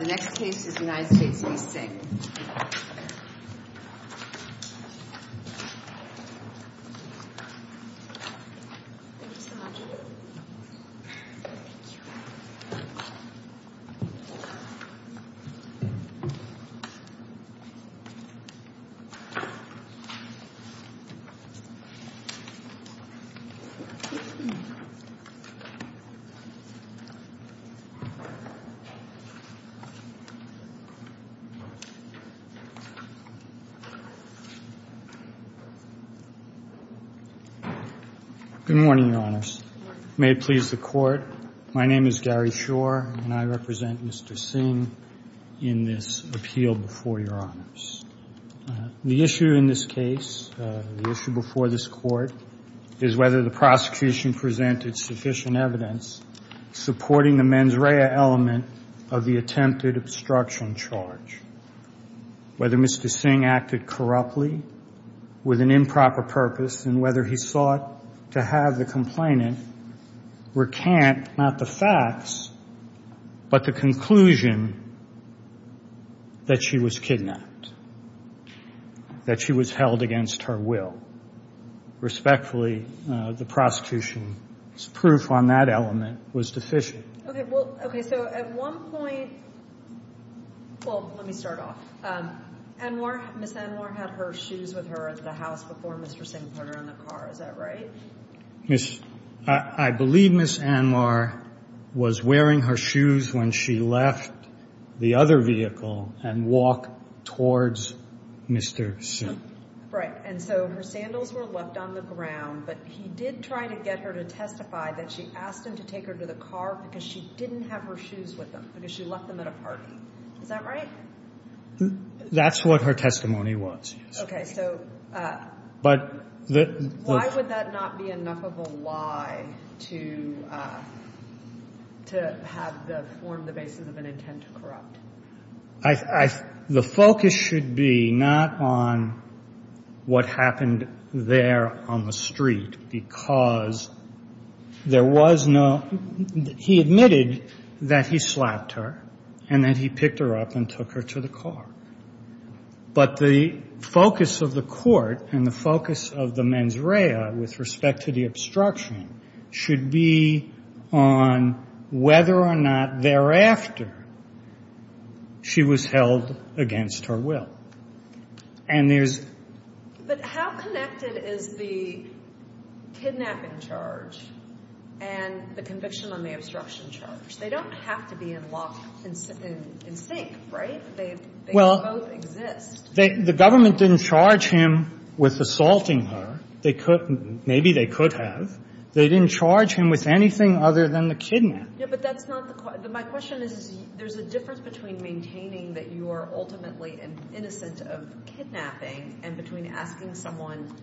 The next case is United States v. Singh. Good morning, Your Honors. May it please the Court, my name is Gary Shore and I represent Mr. Singh in this appeal before Your Honors. The issue in this case, the issue before this Court, is whether the prosecution presented sufficient evidence supporting the mens rea element of the attempted obstruction charge, whether Mr. Singh acted corruptly with an improper purpose and whether he sought to have the complainant recant not the facts but the conclusion that she was kidnapped, that she was held against her will. Respectfully, the prosecution's proof on that element was deficient. Okay, so at one point, well, let me start off. Ms. Anwar had her shoes with her at the house before Mr. Singh put her in the car, is that right? I believe Ms. Anwar was wearing her shoes when she left the other vehicle and walked towards Mr. Singh. Right, and so her sandals were left on the ground but he did try to get her to testify that she asked him to take her to the car because she didn't have her shoes with him because she left them at a party, is that right? That's what her testimony was. Okay, so why would that not be enough of a lie to to have the form the basis of an intent to corrupt? The focus should be not on what happened there on the street because there was no, he admitted that he slapped her and that he picked her up and took her to the car, but the focus of the court and the focus of the mens rea with respect to the obstruction should be on whether or not thereafter she was held against her will. And there's... But how connected is the kidnapping charge and the conviction on the obstruction charge? They don't have to be in lock and sink, right? They both exist. The government didn't charge him with assaulting her. They could, maybe they could have. They didn't charge him with anything other than the kidnap. Yeah, but that's not the, my question is there's a difference between maintaining that you are ultimately innocent of kidnapping and between asking someone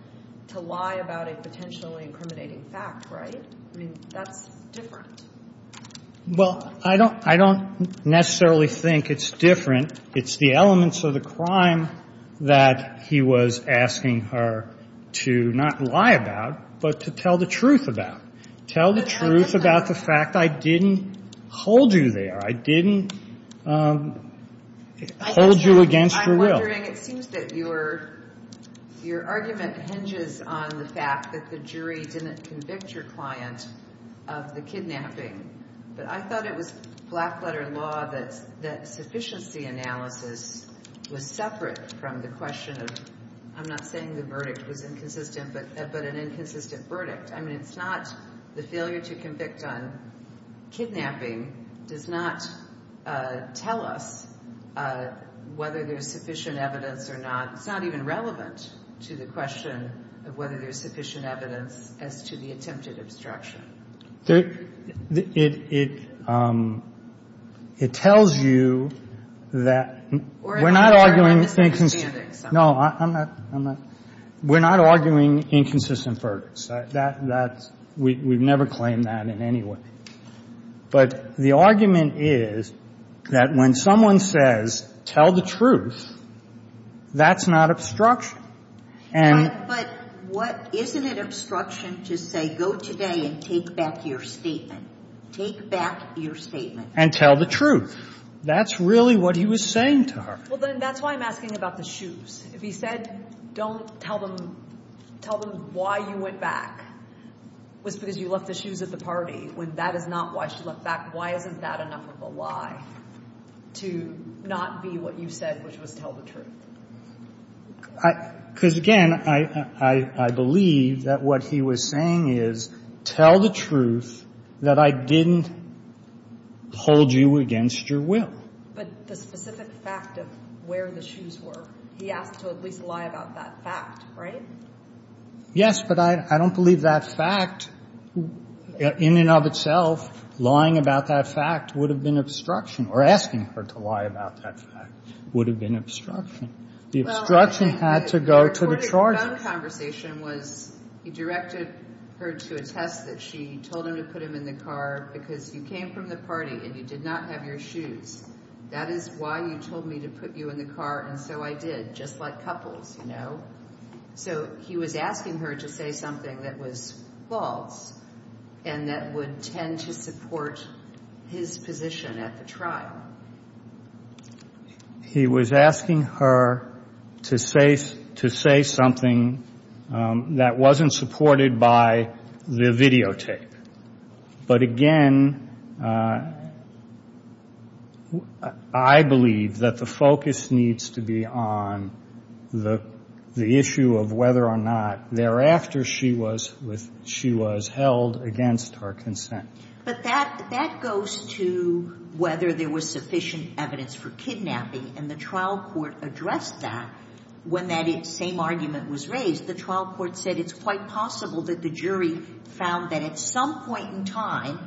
to lie about a potentially incriminating fact, right? I mean, that's different. Well, I don't necessarily think it's different. It's the elements of the crime that he was asking her to not lie about, but to tell the truth about. Tell the truth about the fact I didn't hold you there. I didn't hold you against your will. I'm wondering, it seems that your argument hinges on the fact that the jury didn't convict your client of the kidnapping, but I thought it was black letter law that sufficiency analysis was separate from the question of, I'm not saying the verdict was inconsistent, but an inconsistent verdict. I mean, it's not the failure to convict on kidnapping does not tell us whether there's sufficient evidence or not. It's not even relevant to the question of whether there's sufficient evidence as to the attempted obstruction. It tells you that we're not arguing. No, I'm not. We're not arguing inconsistent verdicts. We've never claimed that in any way. But the argument is that when someone says, tell the truth, that's not obstruction. But isn't it obstruction to say, go today and take back your statement? Take back your statement. And tell the truth. That's really what he was saying to her. Well, then that's why I'm asking about the shoes. If he said, don't tell them why you went back was because you left the shoes at the party, when that is not why she went back, why isn't that enough of a lie to not be what you said, which was tell the truth? Because again, I believe that what he was saying is tell the truth that I didn't hold you against your will. But the specific fact of where the shoes were, he asked to at least lie about that fact, right? Yes, but I don't believe that fact in and of itself, lying about that fact would have been obstruction or asking her to lie about that fact would have been obstruction. The obstruction had to go to the charge. The conversation was he directed her to attest that she told him to put him in the car because you came from the party and you did not have your shoes. That is why you told me to put you in the car. And so I did, just like couples, you know. So he was asking her to say something that was false and that would tend to support his position at the trial. He was asking her to say something that wasn't supported by the videotape. But again, I believe that the focus needs to be on the issue of whether or not thereafter she was held against her consent. But that goes to whether there was sufficient evidence for kidnapping. And the trial court addressed that when that same argument was raised. The trial court said it's quite possible that the jury found that at some point in time,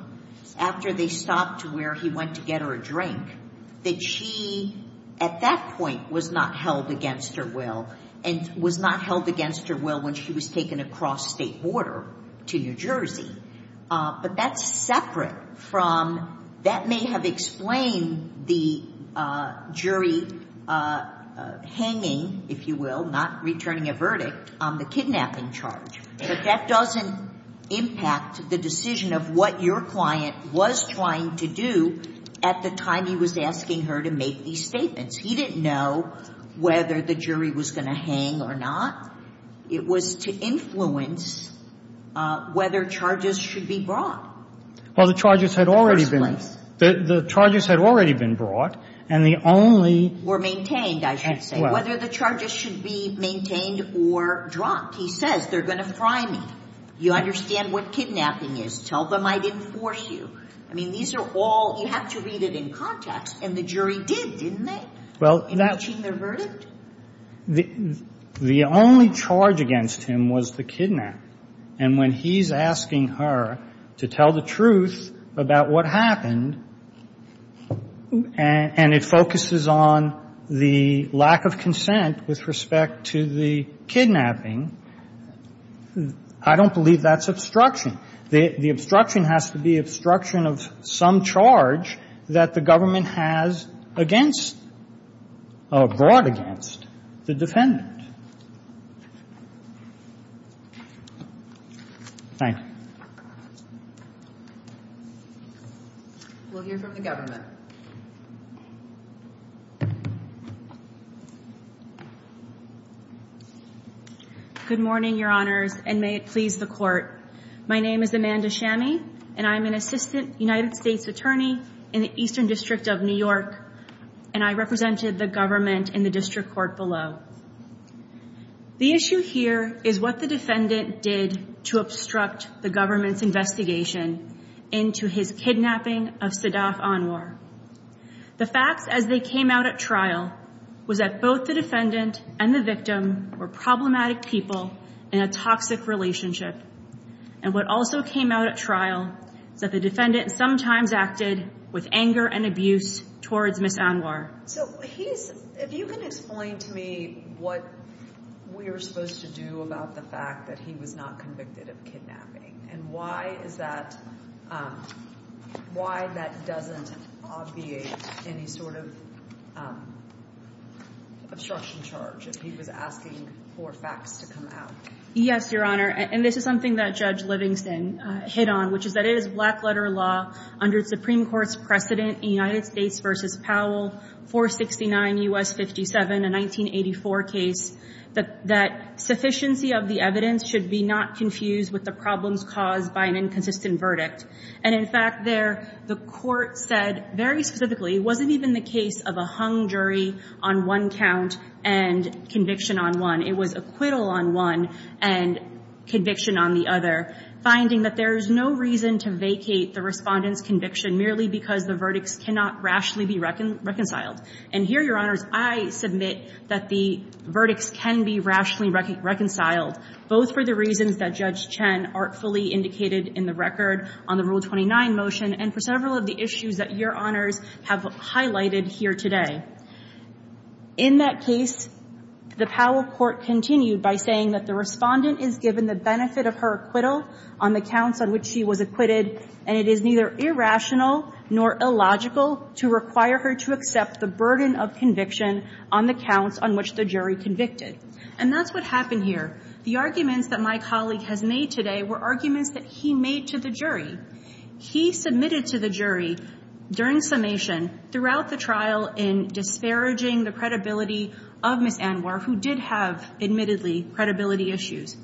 after they stopped where he went to get her a drink, that she, at that point, was not held against her will and was not held against her will when she was taken across state border to New Jersey. But that's separate from, that may have explained the jury hanging, if you will, not returning a verdict on the kidnapping charge. But that doesn't impact the decision of what your client was trying to do at the time he was asking her to make these statements. He didn't know whether the jury was going to hang or not. It was to influence whether charges should be brought. Well, the charges had already been brought. In the first place. The charges had already been brought, and the only – Were maintained, I should say. Well – He says, they're going to fry me. You understand what kidnapping is. Tell them I didn't force you. I mean, these are all – you have to read it in context. And the jury did, didn't they? Well, that – In reaching their verdict? The only charge against him was the kidnap. And when he's asking her to tell the truth about what happened, and it focuses on the lack of consent with respect to the kidnapping, I don't believe that's obstruction. The obstruction has to be obstruction of some charge that the government has against – or brought against the defendant. Thank you. We'll hear from the government. Good morning, Your Honors, and may it please the Court. My name is Amanda Shammy, and I'm an assistant United States attorney in the Eastern District of New York, and I represented the government in the District Court below. The issue here is what the defendant did to obstruct the government's investigation into his kidnapping of Sadaf Anwar. The facts as they came out at trial was that both the defendant and the victim were problematic people in a toxic relationship. And what also came out at trial is that the defendant sometimes acted with anger and abuse towards Ms. Anwar. So he's – if you can explain to me what we were supposed to do about the fact that he was not convicted of kidnapping, and why is that – why that doesn't obviate any sort of obstruction charge if he was asking for facts to come out. Yes, Your Honor, and this is something that Judge Livingston hit on, which is that it is black-letter law under the Supreme Court's precedent in United States v. Powell 469 U.S. 57, a 1984 case, that sufficiency of the evidence should be not confused with the problems caused by an inconsistent verdict. And in fact, there, the court said very specifically it wasn't even the case of a hung jury on one count and conviction on one. It was acquittal on one and conviction on the other, finding that there is no reason to vacate the respondent's conviction merely because the verdicts cannot rationally be reconciled. And here, Your Honors, I submit that the verdicts can be rationally reconciled, both for the reasons that Judge Chen artfully indicated in the record on the Rule 29 motion and for several of the issues that Your Honors have highlighted here today. In that case, the Powell court continued by saying that the respondent is given the benefit of her acquittal on the counts on which she was acquitted, and it is neither irrational nor illogical to require her to accept the burden of conviction on the counts on which the jury convicted. And that's what happened here. The arguments that my colleague has made today were arguments that he made to the jury. He submitted to the jury during summation, throughout the trial, in disparaging the credibility of Ms. Anwar, who did have, admittedly, credibility issues,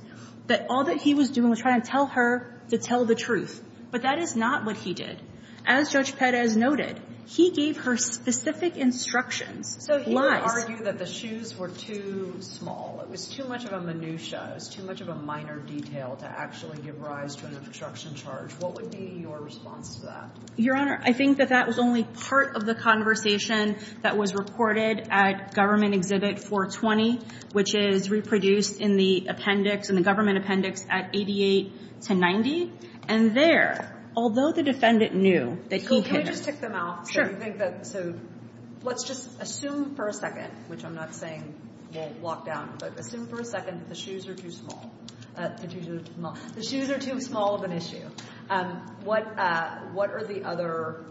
that all that he was doing was trying to tell her to tell the truth. But that is not what he did. As Judge Perez noted, he gave her specific instructions. So he would argue that the shoes were too small. It was too much of a minutia. It was too much of a minor detail to actually give rise to an obstruction charge. What would be your response to that? Your Honor, I think that that was only part of the conversation that was reported at Government Exhibit 420, which is reproduced in the appendix, in the government appendix, at 88 to 90. And there, although the defendant knew that he... Can I just tick them off? Sure. So let's just assume for a second, which I'm not saying we'll lock down, but assume for a second that the shoes are too small. The shoes are too small of an issue. What are the other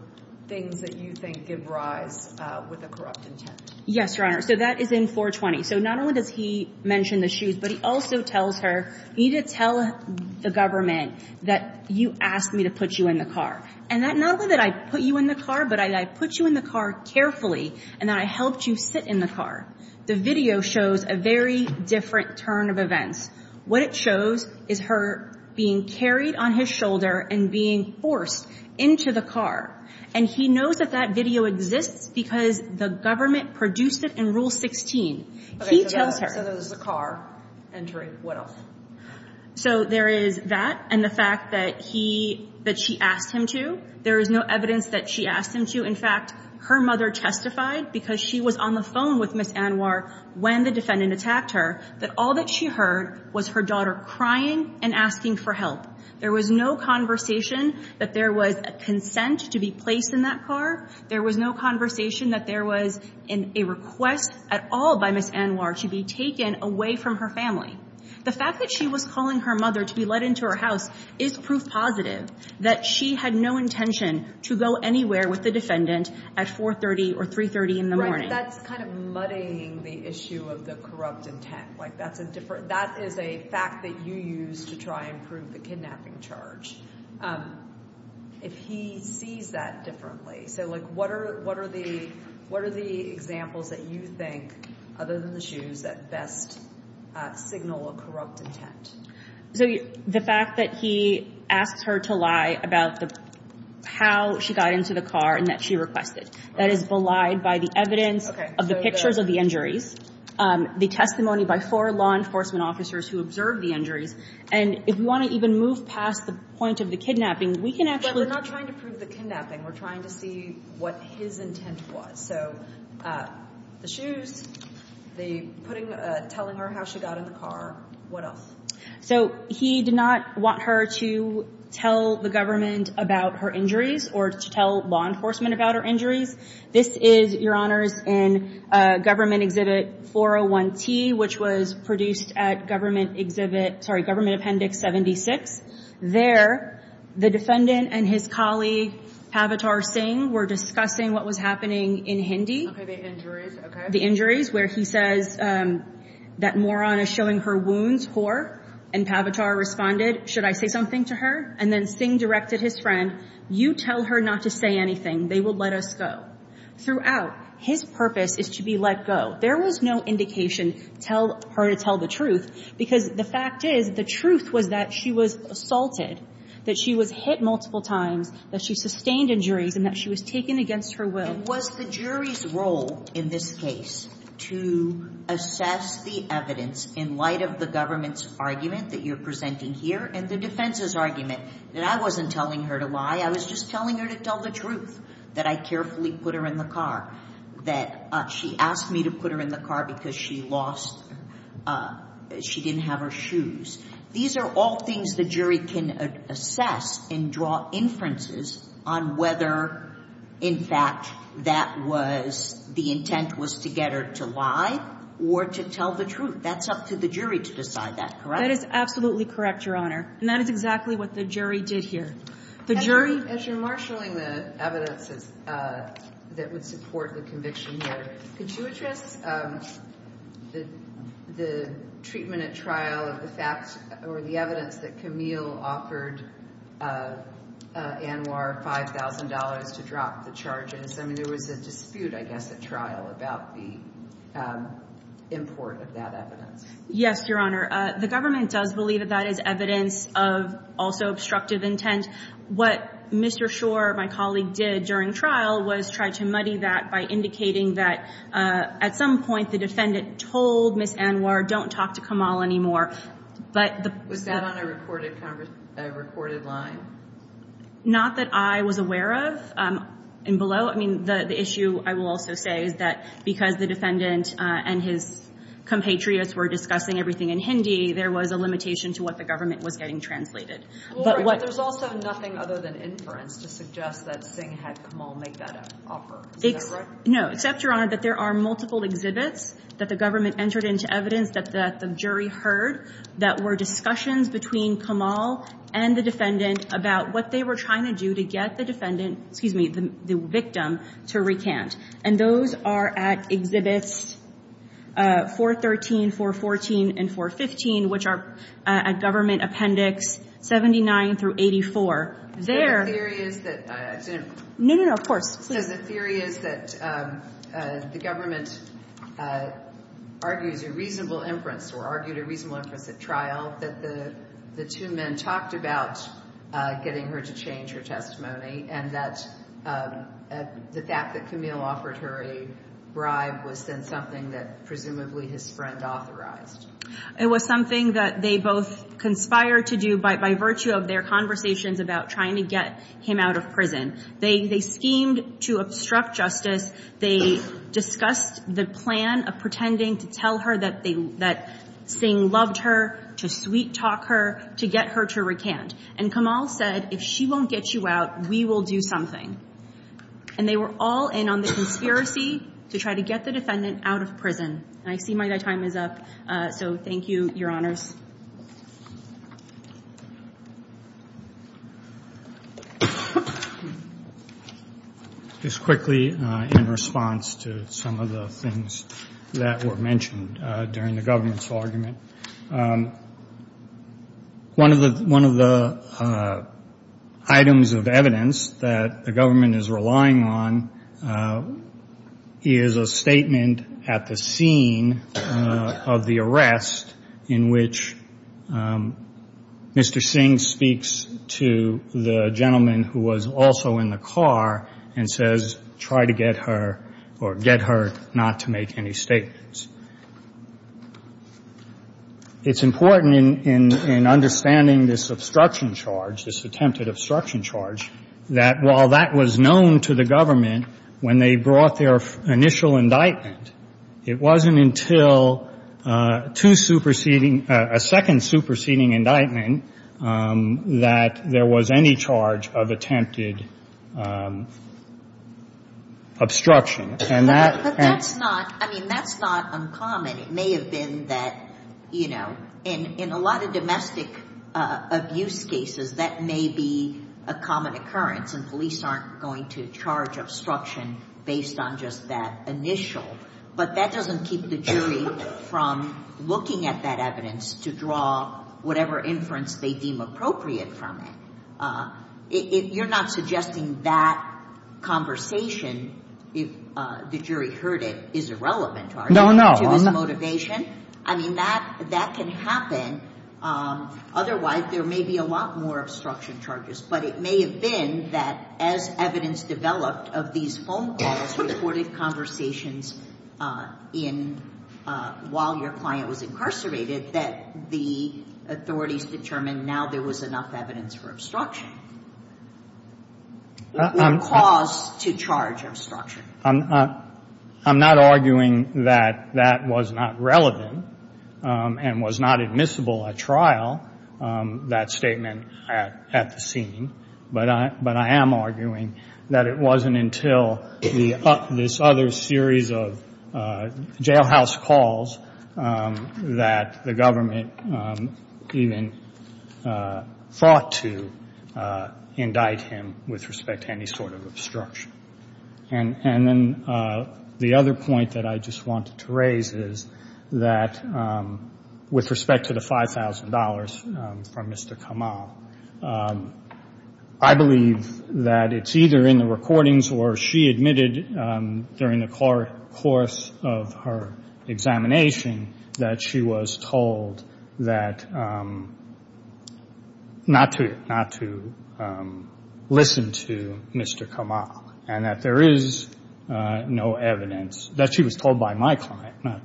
things that you think give rise with a corrupt intent? Yes, Your Honor. So that is in 420. So not only does he mention the shoes, but he also tells her, you need to tell the government that you asked me to put you in the car. And not only did I put you in the car, but I put you in the car carefully, and I helped you sit in the car. The video shows a very different turn of events. What it shows is her being carried on his shoulder and being forced into the car. And he knows that that video exists because the government produced it in Rule 16. He tells her... Okay, so there's the car entry. What else? So there is that and the fact that she asked him to. There is no evidence that she asked him to. In fact, her mother testified, because she was on the phone with Ms. Anwar when the defendant attacked her, that all that she heard was her daughter crying and asking for help. There was no conversation that there was a consent to be placed in that car. There was no conversation that there was a request at all by Ms. Anwar to be taken away from her family. The fact that she was calling her mother to be let into her house is proof positive that she had no intention to go anywhere with the defendant at 430 or 330 in the morning. Right, but that's kind of muddying the issue of the corrupt intent. That is a fact that you use to try and prove the kidnapping charge. If he sees that differently, so what are the examples that you think, other than the shoes, that best signal a corrupt intent? So the fact that he asks her to lie about how she got into the car and that she requested. That is belied by the evidence of the pictures of the injuries, the testimony by four law enforcement officers who observed the injuries. And if we want to even move past the point of the kidnapping, we can actually... But we're not trying to prove the kidnapping. We're trying to see what his intent was. So the shoes, telling her how she got in the car, what else? So he did not want her to tell the government about her injuries or to tell law enforcement about her injuries. This is, Your Honors, in Government Exhibit 401T, which was produced at Government Exhibit... Sorry, Government Appendix 76. There, the defendant and his colleague, Pavatar Singh, were discussing what was happening in Hindi. Okay, the injuries, okay. The injuries, where he says that moron is showing her wounds, whore. And Pavatar responded, should I say something to her? And then Singh directed his friend, you tell her not to say anything, they will let us go. Throughout, his purpose is to be let go. There was no indication, tell her to tell the truth, because the fact is, the truth was that she was assaulted, that she was hit multiple times, that she sustained injuries, and that she was taken against her will. And was the jury's role in this case to assess the evidence in light of the government's argument that you're presenting here and the defense's argument that I wasn't telling her to lie, I was just telling her to tell the truth, that I carefully put her in the car, that she asked me to put her in the car because she lost... She didn't have her shoes. These are all things the jury can assess and draw inferences on whether, in fact, that was the intent was to get her to lie or to tell the truth. That's up to the jury to decide that, correct? That is absolutely correct, Your Honor. And that is exactly what the jury did here. The jury... As you're marshalling the evidences that would support the conviction here, could you address the treatment at trial of the facts or the evidence that Camille offered Anwar $5,000 to drop the charges? I mean, there was a dispute, I guess, at trial about the import of that evidence. Yes, Your Honor. The government does believe that that is evidence of also obstructive intent. What Mr. Shore, my colleague, did during trial was try to muddy that by indicating that at some point the defendant told Ms. Anwar, don't talk to Camille anymore. Was that on a recorded line? Not that I was aware of and below. I mean, the issue, I will also say, is that because the defendant and his compatriots were discussing everything in Hindi, there was a limitation to what the government was getting translated. But there's also nothing other than inference to suggest that Singh had Camille make that offer. Is that right? No, except, Your Honor, that there are multiple exhibits that the government entered into evidence that the jury heard that were discussions between Camille and the defendant about what they were trying to do to get the defendant, excuse me, the victim to recant. And those are at Exhibits 413, 414, and 415, which are at Government Appendix 79 through 84. No, no, no, of course. The theory is that the government argues a reasonable inference or argued a reasonable inference at trial that the two men talked about getting her to change her testimony and that the fact that Camille offered her a bribe was then something that presumably his friend authorized. It was something that they both conspired to do by virtue of their conversations about trying to get him out of prison. They schemed to obstruct justice. They discussed the plan of pretending to tell her that Singh loved her, to sweet-talk her, to get her to recant. And Camille said, if she won't get you out, we will do something. And they were all in on the conspiracy to try to get the defendant out of prison. I see my time is up. So thank you, Your Honors. Just quickly, in response to some of the things that were mentioned during the government's argument, one of the items of evidence that the government is relying on is a statement at the scene of the arrest in which Mr. Singh speaks to the gentleman who was also in the car and says, try to get her or get her not to make any statements. It's important in understanding this obstruction charge, this attempted obstruction charge, that while that was known to the government when they brought their initial indictment, it wasn't until a second superseding indictment that there was any charge of attempted obstruction. But that's not uncommon. It may have been that, you know, in a lot of domestic abuse cases, that may be a common occurrence, and police aren't going to charge obstruction based on just that initial. But that doesn't keep the jury from looking at that evidence to draw whatever inference they deem appropriate from it. You're not suggesting that conversation, if the jury heard it, is irrelevant to his motivation? I mean, that can happen. Otherwise, there may be a lot more obstruction charges. But it may have been that, as evidence developed of these phone calls, reported conversations while your client was incarcerated, that the authorities determined now there was enough evidence for obstruction, or cause to charge obstruction. I'm not arguing that that was not relevant and was not admissible at trial, that statement at the scene. But I am arguing that it wasn't until this other series of jailhouse calls that the government even fought to indict him with respect to any sort of obstruction. And then the other point that I just wanted to raise is that with respect to the $5,000 from Mr. Kamal, I believe that it's either in the recordings or she admitted during the course of her examination that she was told that not to listen to Mr. Kamal and that there is no evidence that she was told by my client not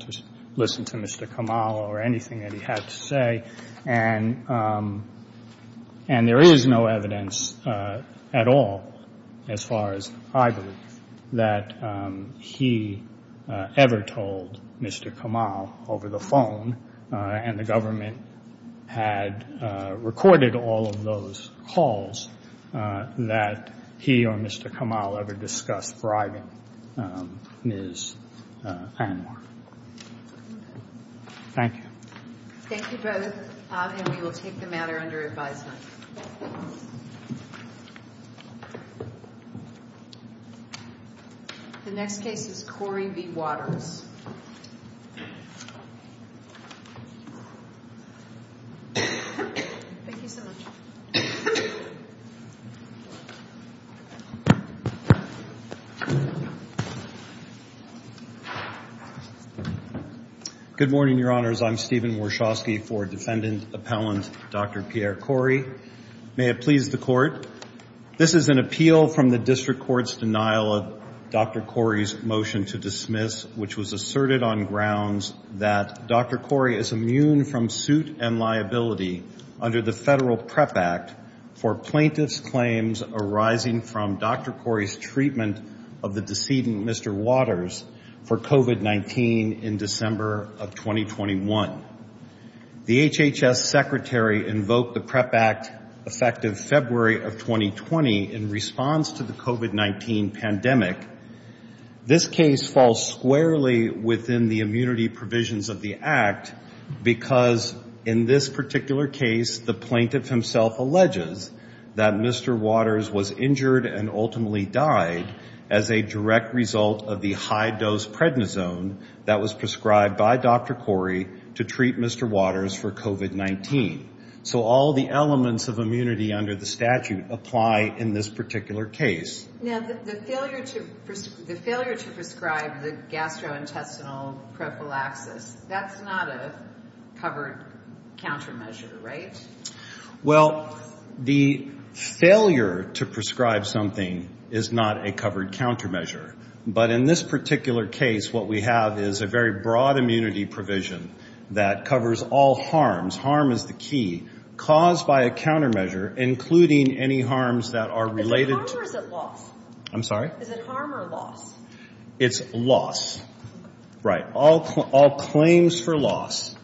to listen to Mr. Kamal or anything that he had to say. And there is no evidence at all, as far as I believe, that he ever told Mr. Kamal over the phone and the government had recorded all of those calls that he or Mr. Kamal ever discussed bribing Ms. Anwar. Thank you. Thank you both. And we will take the matter under advisement. The next case is Corey V. Waters. Thank you so much. Good morning, Your Honors. I'm Stephen Warshawski for Defendant Appellant Dr. Pierre Corey. May it please the Court, this is an appeal from the District Court's denial of Dr. Corey's motion to dismiss, which was asserted on grounds that Dr. Corey is immune from suit and liability under the federal PREP Act, and that he is not eligible to be a defendant. The court has decided that for plaintiff's claims arising from Dr. Corey's treatment of the decedent, Mr. Waters, for COVID-19 in December of 2021. The HHS Secretary invoked the PREP Act effective February of 2020 in response to the COVID-19 pandemic. This case falls squarely within the immunity provisions of the act because in this particular case, the plaintiff himself alleges that Mr. Waters was injured and ultimately died as a direct result of the high-dose prednisone that was prescribed by Dr. Corey to treat Mr. Waters for COVID-19. So all the elements of immunity under the statute apply in this particular case. Now, the failure to prescribe the gastrointestinal prophylaxis, that's not a covered countermeasure, right? Well, the failure to prescribe something is not a covered countermeasure. But in this particular case, what we have is a very broad immunity provision that covers all harms. Harm is the key. Caused by a countermeasure, including any harms that are related... Is it harm or is it loss? I'm sorry? Is it harm or loss? It's loss. Right. All claims for loss.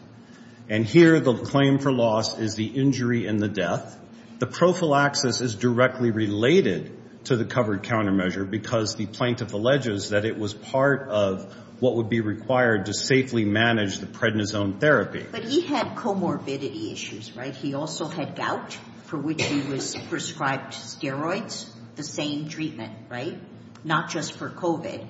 And here the claim for loss is the injury and the death. The prophylaxis is directly related to the covered countermeasure because the plaintiff alleges that it was part of what would be required to safely manage the prednisone therapy. But he had comorbidity issues, right? He also had gout for which he was prescribed steroids, the same treatment, right? Not just for COVID.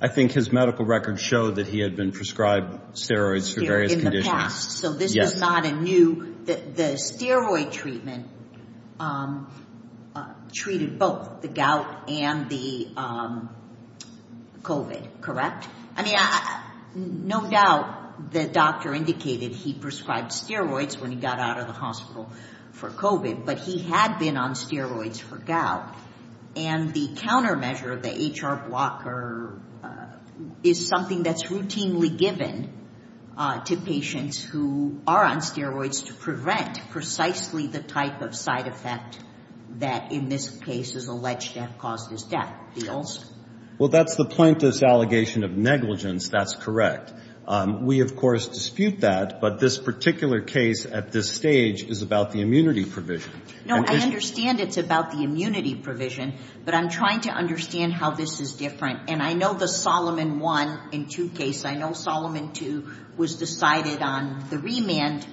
I think his medical records show that he had been prescribed steroids for various conditions. In the past. So this was not a new... The steroid treatment treated both the gout and the COVID, correct? I mean, no doubt the doctor indicated he prescribed for COVID, but he had been on steroids for gout. And the countermeasure, the HR blocker, is something that's routinely given to patients who are on steroids to prevent precisely the type of side effect that in this case is alleged to have caused his death. Well, that's the plaintiff's allegation of negligence. That's correct. We of course dispute that, but this particular case at this stage is about the immunity provision. No, I understand it's about the immunity provision, but I'm trying to understand how this is different. And I know the Solomon 1 and 2 case, I know Solomon 2 was decided on the remand,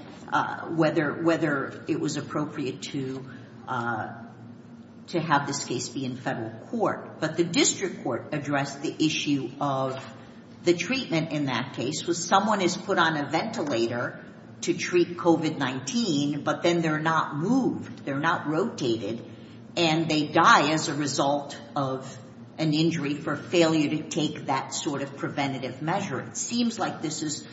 whether it was appropriate to have this case be in federal court. But the district court addressed the issue of the treatment in that case was someone is put on a ventilator to treat COVID-19, but then they're not moved. They're not rotated and they die as a result of an injury for failure to take that sort of preventative measure. It seems like this is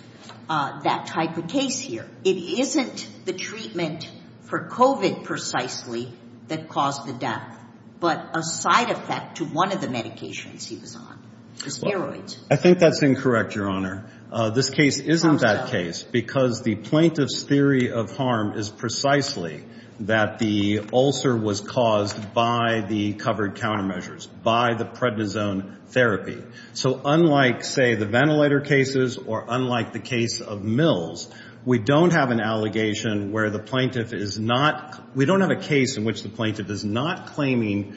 that type of case here. It isn't the treatment for COVID precisely that caused the death, but a side effect to one of the medications he was on, the steroids. I think that's incorrect, Your Honor. This case isn't that case because the plaintiff's theory of harm is precisely that the ulcer was caused by the covered countermeasures, by the prednisone therapy. So unlike, say, the ventilator cases or unlike the case of Mills, we don't have an allegation where the plaintiff is not, we don't have a case in which the plaintiff is not claiming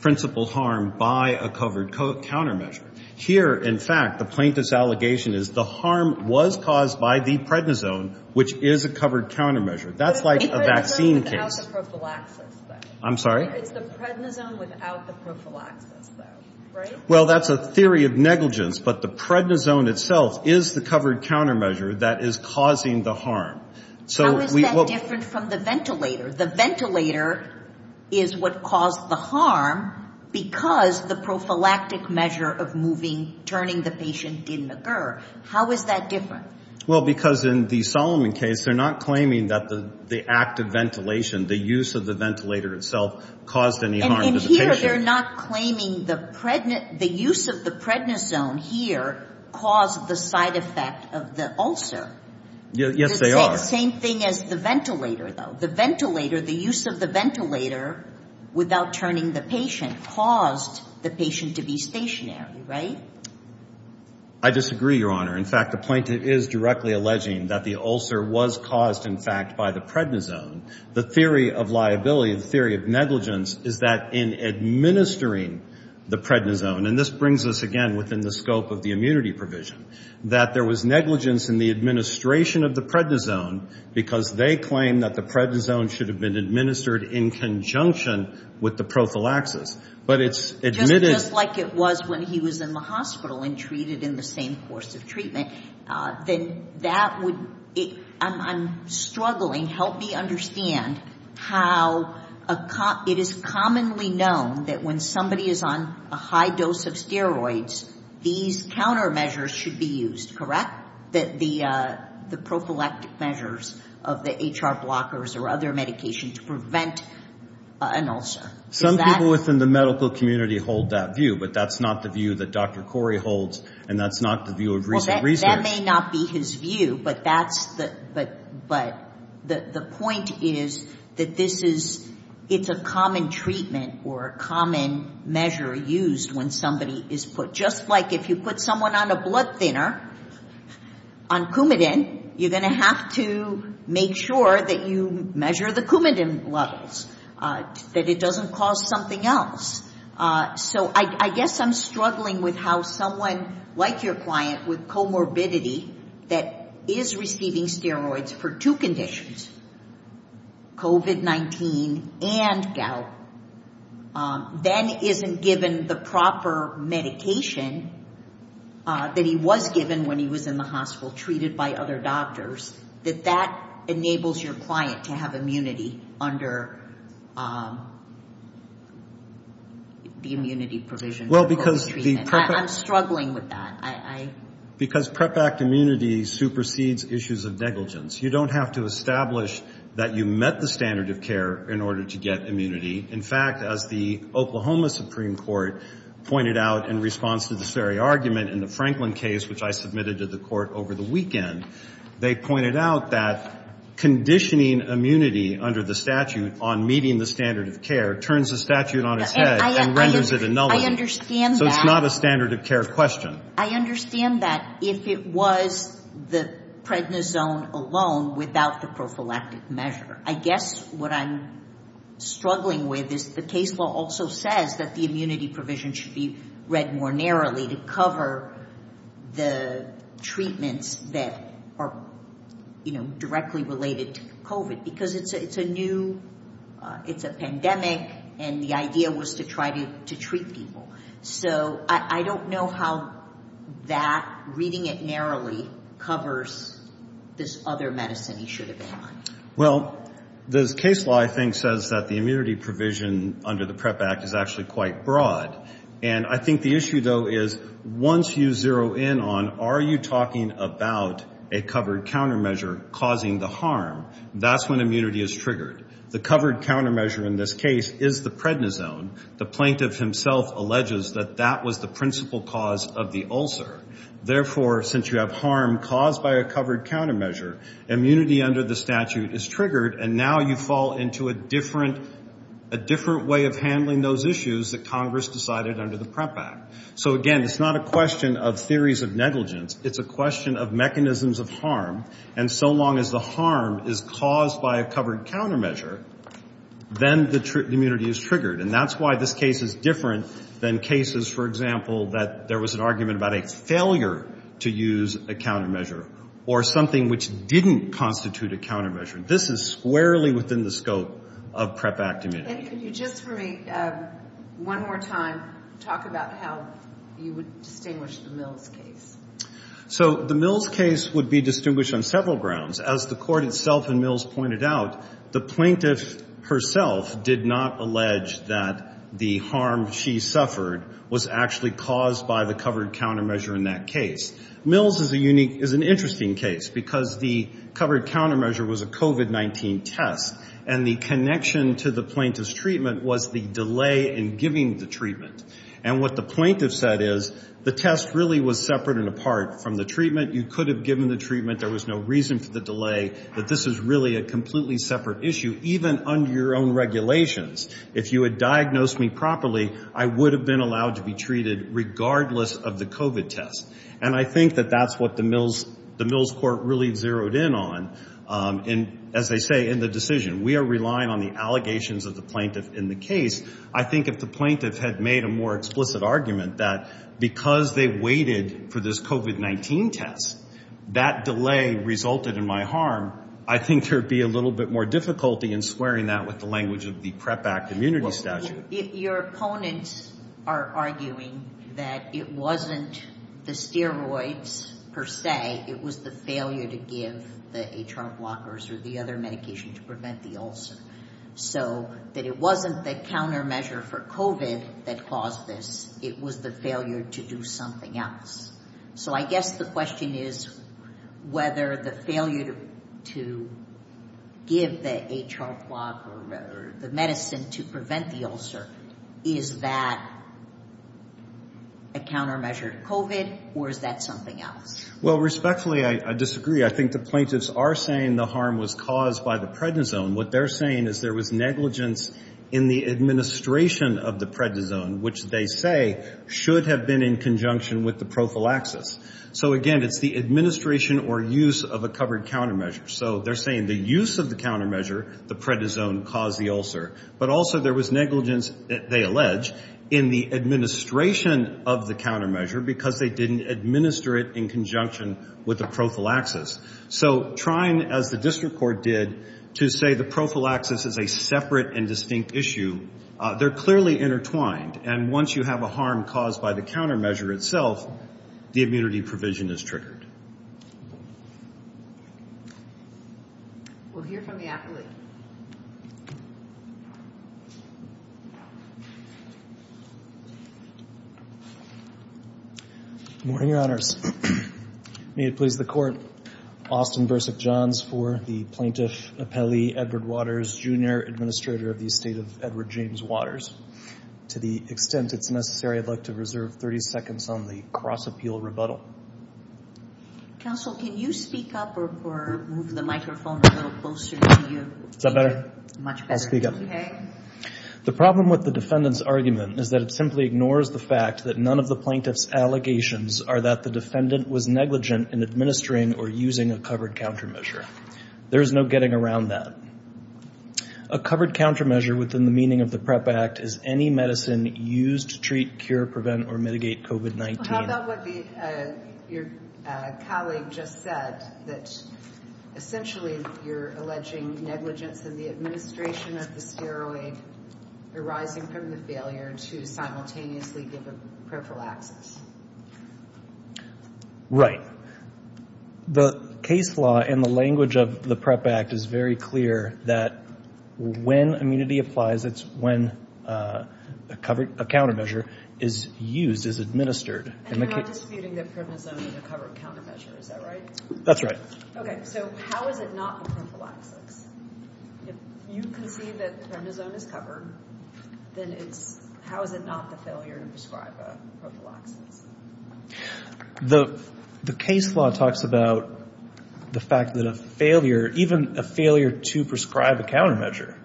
principal harm by a covered countermeasure. Here, in fact, the plaintiff's allegation is the harm was caused by the prednisone, which is a covered countermeasure. That's like a vaccine case. I'm sorry? It's the prednisone without the prophylaxis though, right? Well, that's a theory of negligence, but the prednisone itself is the covered countermeasure that is causing the harm. How is that different from the ventilator? The ventilator is what caused the harm because the prophylactic measure of moving, turning the patient didn't occur. How is that different? Well, because in the Solomon case, they're not claiming that the active ventilation, the use of the ventilator itself caused any harm to the patient. And here, they're not claiming the use of the prednisone here caused the side effect of the ulcer. Yes, they are. Same thing as the ventilator though. The ventilator, the use of the ventilator without turning the patient caused the patient to be stationary, right? I disagree, Your Honor. In fact, the plaintiff is directly alleging that the ulcer was caused, in fact, by the prednisone. The theory of liability, the theory of negligence, is that in administering the prednisone, and this brings us again within the scope of the because they claim that the prednisone should have been administered in conjunction with the prophylaxis. But it's admitted... Just like it was when he was in the hospital and treated in the same course of treatment, then that would... I'm struggling. Help me understand how it is commonly known that when somebody is on a high dose of steroids, these countermeasures should be used, correct? The prophylactic measures of the HR blockers or other medication to prevent an ulcer. Some people within the medical community hold that view, but that's not the view that Dr. Corey holds, and that's not the view of recent research. That may not be his view, but the point is that it's a common treatment or a common measure used when somebody is put... Just like if you put someone on a blood thinner on Coumadin, you're going to have to make sure that you measure the Coumadin levels, that it doesn't cause something else. So I guess I'm struggling with how someone like your client with comorbidity that is receiving steroids for two conditions, COVID-19 and gout, then isn't given the proper medication that he was given when he was in the hospital treated by other doctors, that that enables your client to have immunity under the immunity provision for COVID treatment. I'm struggling with that. Because PrEP Act immunity supersedes issues of negligence. You don't have to establish that you met the standard of care in order to get immunity. In fact, as the Oklahoma Supreme Court pointed out in response to this very argument in the Franklin case, which I submitted to the court over the weekend, they pointed out that conditioning immunity under the statute on meeting the standard of care turns the statute on its head and renders it a nullity. I understand that. So it's not a standard of care question. I understand that if it was the prednisone alone without the prophylactic measure. I guess what I'm struggling with is the case law also says that the immunity provision should be read more narrowly to cover the treatments that are directly related to COVID because it's a new, it's a pandemic, and the idea was to try to treat people. So I don't know how that reading it narrowly covers this other medicine he should have been on. Well, this case law, I think, says that the immunity provision under the PrEP Act is actually quite broad. And I think the issue, though, is once you zero in on are you talking about a covered countermeasure causing the harm? That's when immunity is triggered. The covered countermeasure in this case is the prednisone. The plaintiff himself alleges that that was the principal cause of the ulcer. Therefore, since you have harm caused by a covered countermeasure, immunity under the statute is triggered. And now you fall into a different way of handling those issues that Congress decided under the PrEP Act. So again, it's not a question of theories of negligence. It's a question of mechanisms of harm. And so long as the harm is caused by a covered countermeasure, then the immunity is triggered. And that's why this case is different than cases, for example, that there was an argument about a failure to use a countermeasure or something which didn't constitute a countermeasure. This is squarely within the scope of PrEP Act immunity. Can you just for me one more time talk about how you would distinguish the Mills case? So the Mills case would be distinguished on several grounds. As the court itself and Mills pointed out, the plaintiff herself did not allege that the harm she suffered was actually caused by the covered countermeasure in that case. Mills is an interesting case because the covered countermeasure was a COVID-19 test. And the connection to the plaintiff's treatment was the delay in giving the treatment. And what the plaintiff said is the test really was separate and apart from the treatment. You could have given the treatment. There was no reason for the delay. But this is really a completely separate issue, even under your own regulations. If you had diagnosed me properly, I would have been allowed to be treated regardless of the COVID test. And I think that that's what the Mills court really zeroed in on. And as they say in the decision, we are relying on the allegations of the plaintiff in the case. I think if the plaintiff had made a more explicit argument that because they waited for this COVID-19 test, that delay resulted in my harm, I think there'd be a little bit more difficulty in squaring that with the language of the PrEP Act immunity statute. Your opponents are arguing that it wasn't the steroids per se. It was the failure to give the HR blockers or the other medication to prevent the ulcer. So that it wasn't the countermeasure for COVID that caused this. It was the failure to do something else. So I guess the question is whether the failure to give the HR blocker or the medicine to prevent the ulcer, is that a countermeasure to COVID or is that something else? Well, respectfully, I disagree. I think the plaintiffs are saying the harm was caused by the prednisone. What they're saying is there was negligence in the administration of the prednisone, which they say should have been in conjunction with the prophylaxis. So again, it's the administration or use of a covered countermeasure. So they're saying the use of the countermeasure, the prednisone caused the ulcer. But also there was negligence, they allege, in the administration of the countermeasure because they didn't administer it in conjunction with the prophylaxis. So trying, as the district court did, to say the prophylaxis is a separate and distinct issue, they're clearly intertwined. And once you have a harm caused by the countermeasure itself, the immunity provision is triggered. We'll hear from the appellee. Good morning, your honors. May it please the court. Austin Bursick Johns for the plaintiff appellee, Edward Waters, junior administrator of the estate of Edward James Waters. To the extent it's necessary, I'd like to reserve 30 seconds on the cross-appeal rebuttal. Counsel, can you speak up or move the microphone a little closer to you? Is that better? Much better. I'll speak up. Okay. The problem with the defendant's argument is that it simply ignores the fact that none of the plaintiff's allegations are that the defendant was negligent in administering or using a covered countermeasure. There's no getting around that. A covered countermeasure within the meaning of the PREP Act is any medicine used to treat, cure, prevent, or mitigate COVID-19. How about what your colleague just said, that essentially you're alleging negligence in the administration of the steroid arising from the failure to simultaneously give a prophylaxis? Right. The case law and the language of the PREP Act is very clear that when immunity applies, it's when a countermeasure is used, is administered. And you're not disputing that primazone is a covered countermeasure, is that right? That's right. Okay. So how is it not a prophylaxis? If you can see that primazone is covered, then how is it not the failure to administer? The case law talks about the fact that a failure, even a failure to prescribe a countermeasure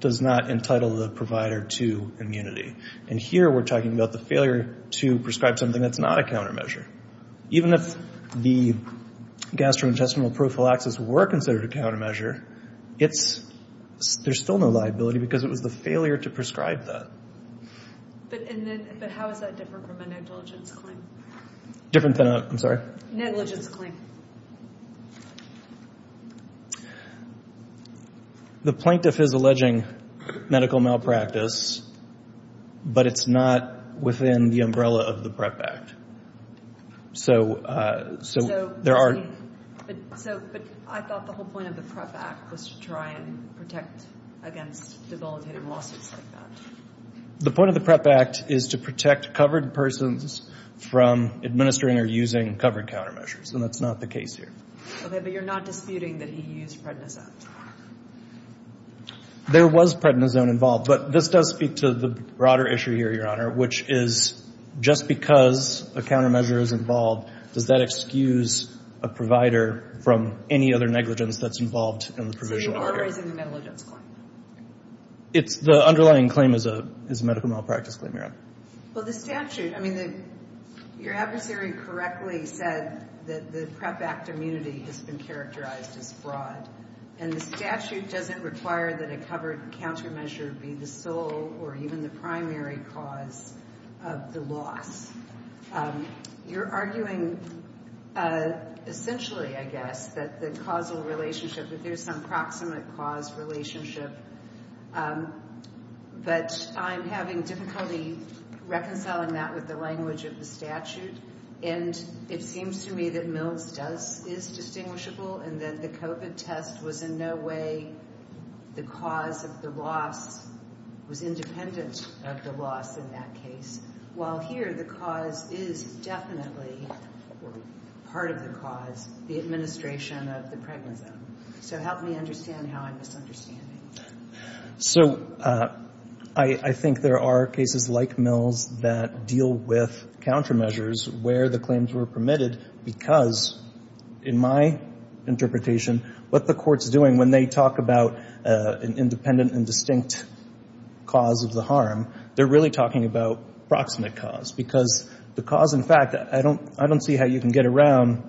does not entitle the provider to immunity. And here we're talking about the failure to prescribe something that's not a countermeasure. Even if the gastrointestinal prophylaxis were considered a countermeasure, there's still no liability because it was the failure to prescribe that. But how is that different from a negligence claim? Different than a, I'm sorry? Negligence claim. The plaintiff is alleging medical malpractice, but it's not within the umbrella of the PREP Act. So there are... But I thought the whole point of the PREP Act was to try and protect against debilitating lawsuits like that. The point of the PREP Act is to protect covered persons from administering or using covered countermeasures, and that's not the case here. Okay, but you're not disputing that he used prednisone? There was prednisone involved, but this does speak to the broader issue here, Your Honor, which is just because a countermeasure is involved, does that excuse a provider from any other negligence that's involved in the provision? So you are raising the negligence claim? It's the underlying claim is a medical malpractice claim, Your Honor. Well, the statute, I mean, your adversary correctly said that the PREP Act immunity has been characterized as fraud, and the statute doesn't require that a covered countermeasure be the sole or even the primary cause of the loss. You're arguing essentially, I guess, that the causal relationship, that there's some proximate cause relationship, but I'm having difficulty reconciling that with the language of the statute, and it seems to me that Mills is distinguishable and that the COVID test was in a way the cause of the loss was independent of the loss in that case, while here the cause is definitely part of the cause, the administration of the prednisone. So help me understand how I'm misunderstanding. So I think there are cases like Mills that deal with countermeasures where the talk about an independent and distinct cause of the harm, they're really talking about proximate cause, because the cause in fact, I don't see how you can get around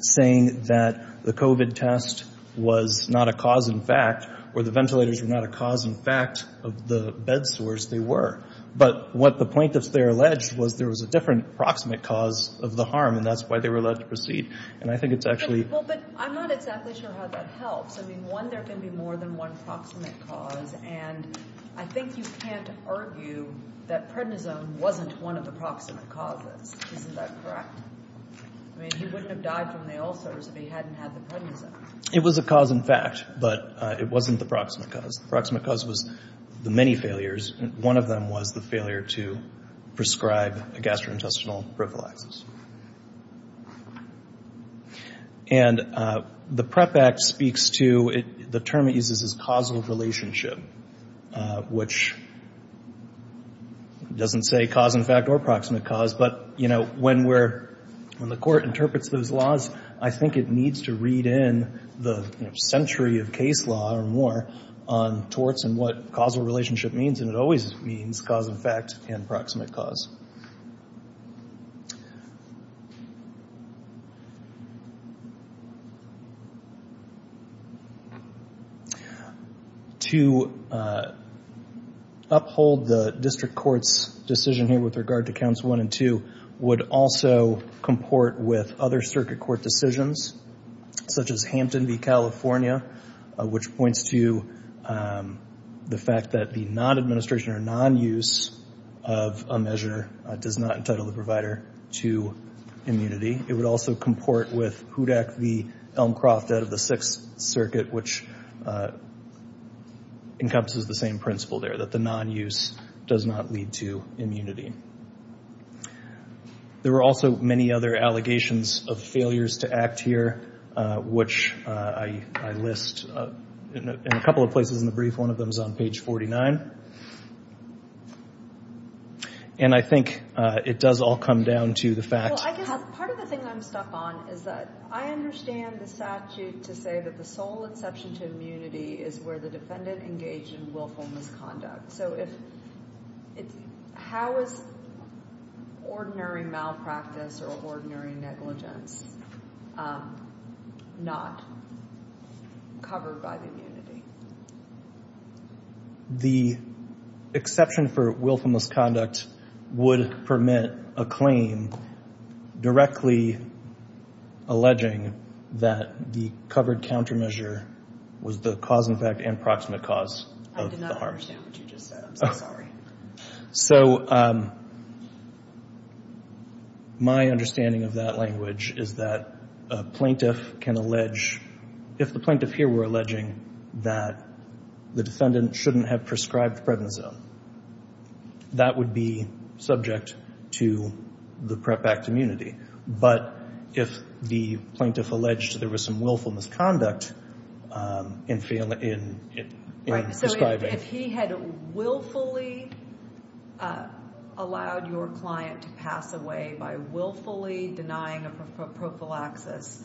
saying that the COVID test was not a cause in fact, or the ventilators were not a cause in fact of the bed sores they were. But what the plaintiffs, they're alleged was there was a different proximate cause of the harm, and that's why they were allowed to proceed. And I think it's one, there can be more than one proximate cause, and I think you can't argue that prednisone wasn't one of the proximate causes. Isn't that correct? I mean, he wouldn't have died from the ulcers if he hadn't had the prednisone. It was a cause in fact, but it wasn't the proximate cause. The proximate cause was the many failures, and one of them was the failure to prescribe a gastrointestinal prophylaxis. And the PREP Act speaks to, the term it uses is causal relationship, which doesn't say cause in fact or proximate cause, but you know, when we're, when the court interprets those laws, I think it needs to read in the century of case law or more on torts and what causal relationship means, and it always means cause in fact and proximate cause. To uphold the district court's decision here with regard to counts one and two, would also comport with other circuit court decisions, such as Hampton v. California, which points to the fact that the non-administration or non-use of a measure does not entitle the provider to immunity. It would also comport with Hudak v. Elmcroft out of the Sixth Circuit, which encompasses the same principle there, that the non-use does not lead to immunity. There were also many other allegations of failures to act here, which I list in a couple of places in the brief. One of them is on page 49. And I think it does all come down to the fact... Well, I guess part of the thing I'm stuck on is that I understand the statute to say that the sole exception to immunity is where the defendant engaged in willful misconduct. So if, it's... How is ordinary malpractice or ordinary negligence not covered by the immunity? The exception for willful misconduct would permit a claim directly alleging that the covered countermeasure was the cause in fact and proximate cause of the harms. I don't understand what you just said. I'm so sorry. So my understanding of that language is that a plaintiff can allege, if the plaintiff here were alleging that the defendant shouldn't have prescribed prednisone, that would be subject to the PrEP Act immunity. But if the plaintiff alleged there was some willful misconduct in prescribing... If he had willfully allowed your client to pass away by willfully denying a prophylaxis,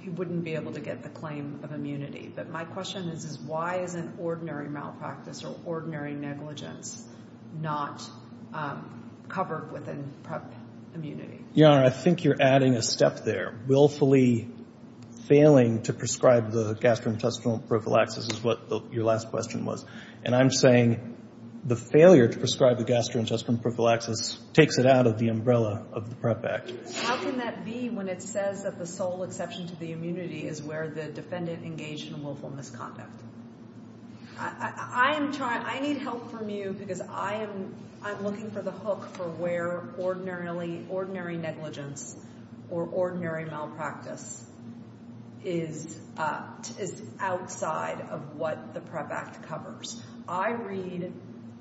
he wouldn't be able to get the claim of immunity. But my question is, why isn't ordinary malpractice or ordinary negligence not covered within PrEP immunity? Your Honor, I think you're adding a step there. Willfully failing to prescribe the gastrointestinal prophylaxis is what your last question was. And I'm saying the failure to prescribe the gastrointestinal prophylaxis takes it out of the umbrella of the PrEP Act. How can that be when it says that the sole exception to the immunity is where the defendant engaged in willful misconduct? I need help from you because I'm looking for the hook for where ordinary negligence or ordinary malpractice is outside of what the PrEP Act covers. I read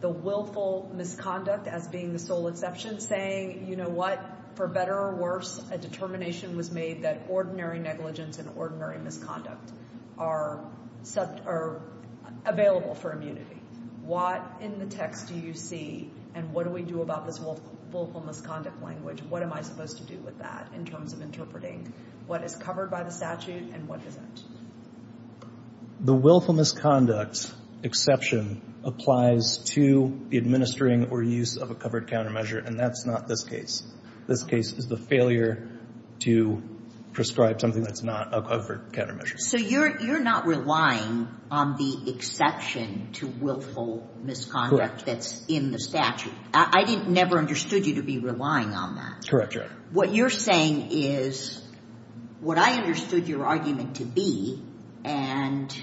the willful misconduct as being the sole exception saying, you know what, for better or worse, a determination was made that ordinary negligence and ordinary misconduct are available for immunity. What in the text do you see and what do we do about this willful misconduct language? What am I supposed to do with that in terms of interpreting what is covered by the statute and what isn't? The willful misconduct exception applies to the administering or use of a covered countermeasure, and that's not this case. This case is the failure to prescribe something that's not a covered countermeasure. So you're not relying on the exception to willful misconduct that's in the statute. I never understood you to be relying on that. Correct, Your Honor. What you're saying is what I understood your argument to be, and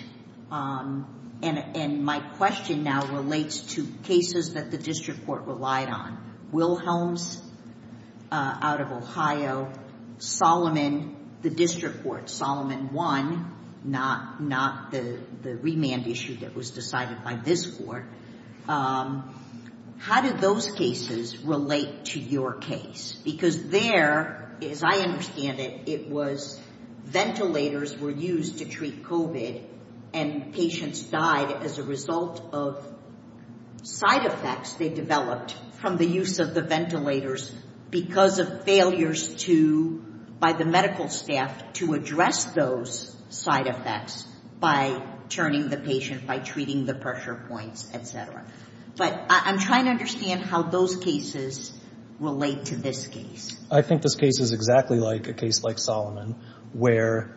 my question now relates to cases that the district court relied on. Wilhelms out of Ohio, Solomon, the district court, Solomon one, not the remand issue that was decided by this court. How did those cases relate to your case? Because there, as I understand it, it was ventilators were used to treat COVID and patients died as a result of side effects they developed from the use of the ventilators because of failures to, by the medical staff to address those side effects by turning the patient, by treating the pressure points, et cetera. But I'm trying to understand how those cases relate to this case. I think this case is exactly like a case like Solomon where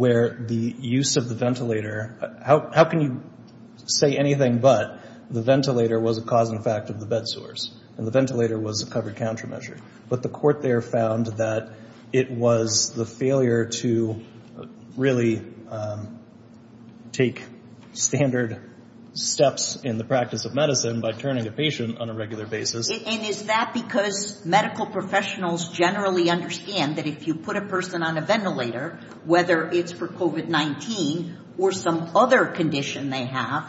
the use of the ventilator, how can you say anything but the ventilator was a cause and effect of the bed sores and the ventilator was a covered countermeasure. But the court there found that it was the failure to really take standard steps in the practice of medicine by turning a patient on a regular basis. And is that because medical professionals generally understand that if you put a person on a ventilator, whether it's for COVID-19 or some other condition they have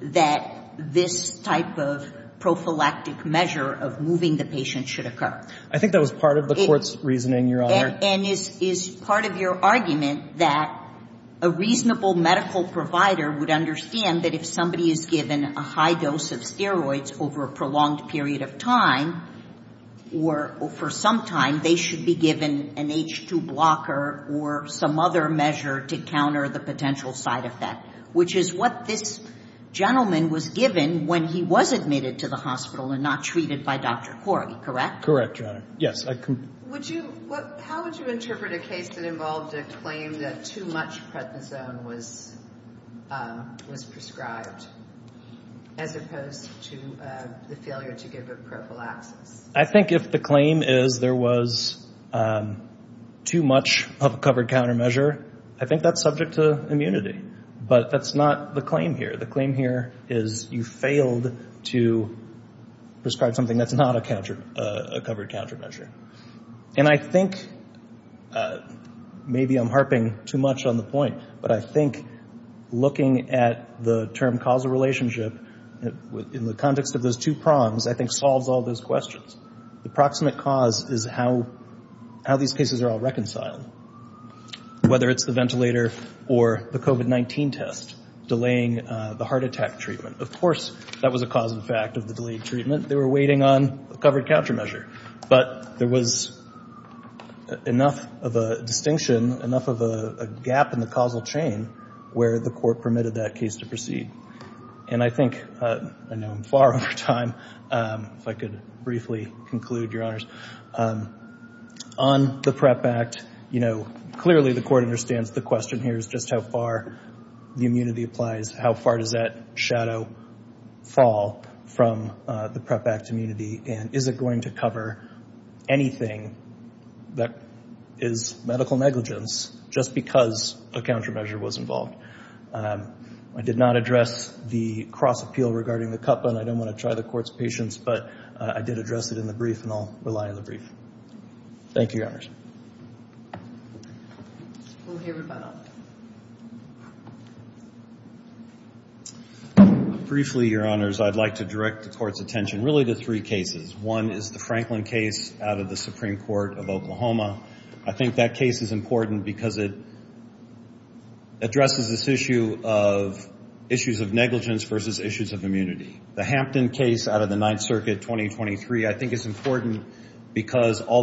that this type of prophylactic measure of moving the patient should occur. I think that was part of the court's reasoning, Your Honor. And is part of your argument that a reasonable medical provider would understand that if somebody is given a high dose of steroids over a prolonged period of time, or for some time, they should be given an H2 blocker or some other measure to counter the potential side effect, which is what this gentleman was given when he was admitted to the hospital and not treated by Dr. Corgi, correct? Correct, Your Honor. Yes. Would you, how would you interpret a case that involved a claim that too much prednisone was prescribed as opposed to the failure to give a prophylaxis? I think if the claim is there was too much of a covered countermeasure, I think that's subject to immunity. But that's not the claim here. The claim here is you failed to prescribe something that's not a covered countermeasure. And I think, uh, maybe I'm harping too much on the point, but I think looking at the term causal relationship in the context of those two prongs, I think solves all those questions. The proximate cause is how, how these cases are all reconciled, whether it's the ventilator or the COVID-19 test delaying the heart attack treatment. Of course, that was a cause and fact of the delayed treatment. They were waiting on a covered countermeasure, but there was, uh, enough of a distinction, enough of a gap in the causal chain where the court permitted that case to proceed. And I think, uh, I know I'm far over time, um, if I could briefly conclude, Your Honors, um, on the PrEP Act, you know, clearly the court understands the question here is just how far the immunity applies. How far does that shadow fall from, uh, the PrEP Act immunity? And is it going to cover anything that is medical negligence just because a countermeasure was involved? Um, I did not address the cross appeal regarding the cup, and I don't want to try the court's patience, but, uh, I did address it in the brief and I'll rely on the brief. Thank you, Your Honors. We'll hear from him. Briefly, Your Honors, I'd like to direct the court's attention really to three cases. One is the Franklin case out of the Supreme Court of Oklahoma. I think that case is important because it addresses this issue of issues of negligence versus issues of immunity. The Hampton case out of the Ninth Circuit, 2023. I think it's important because all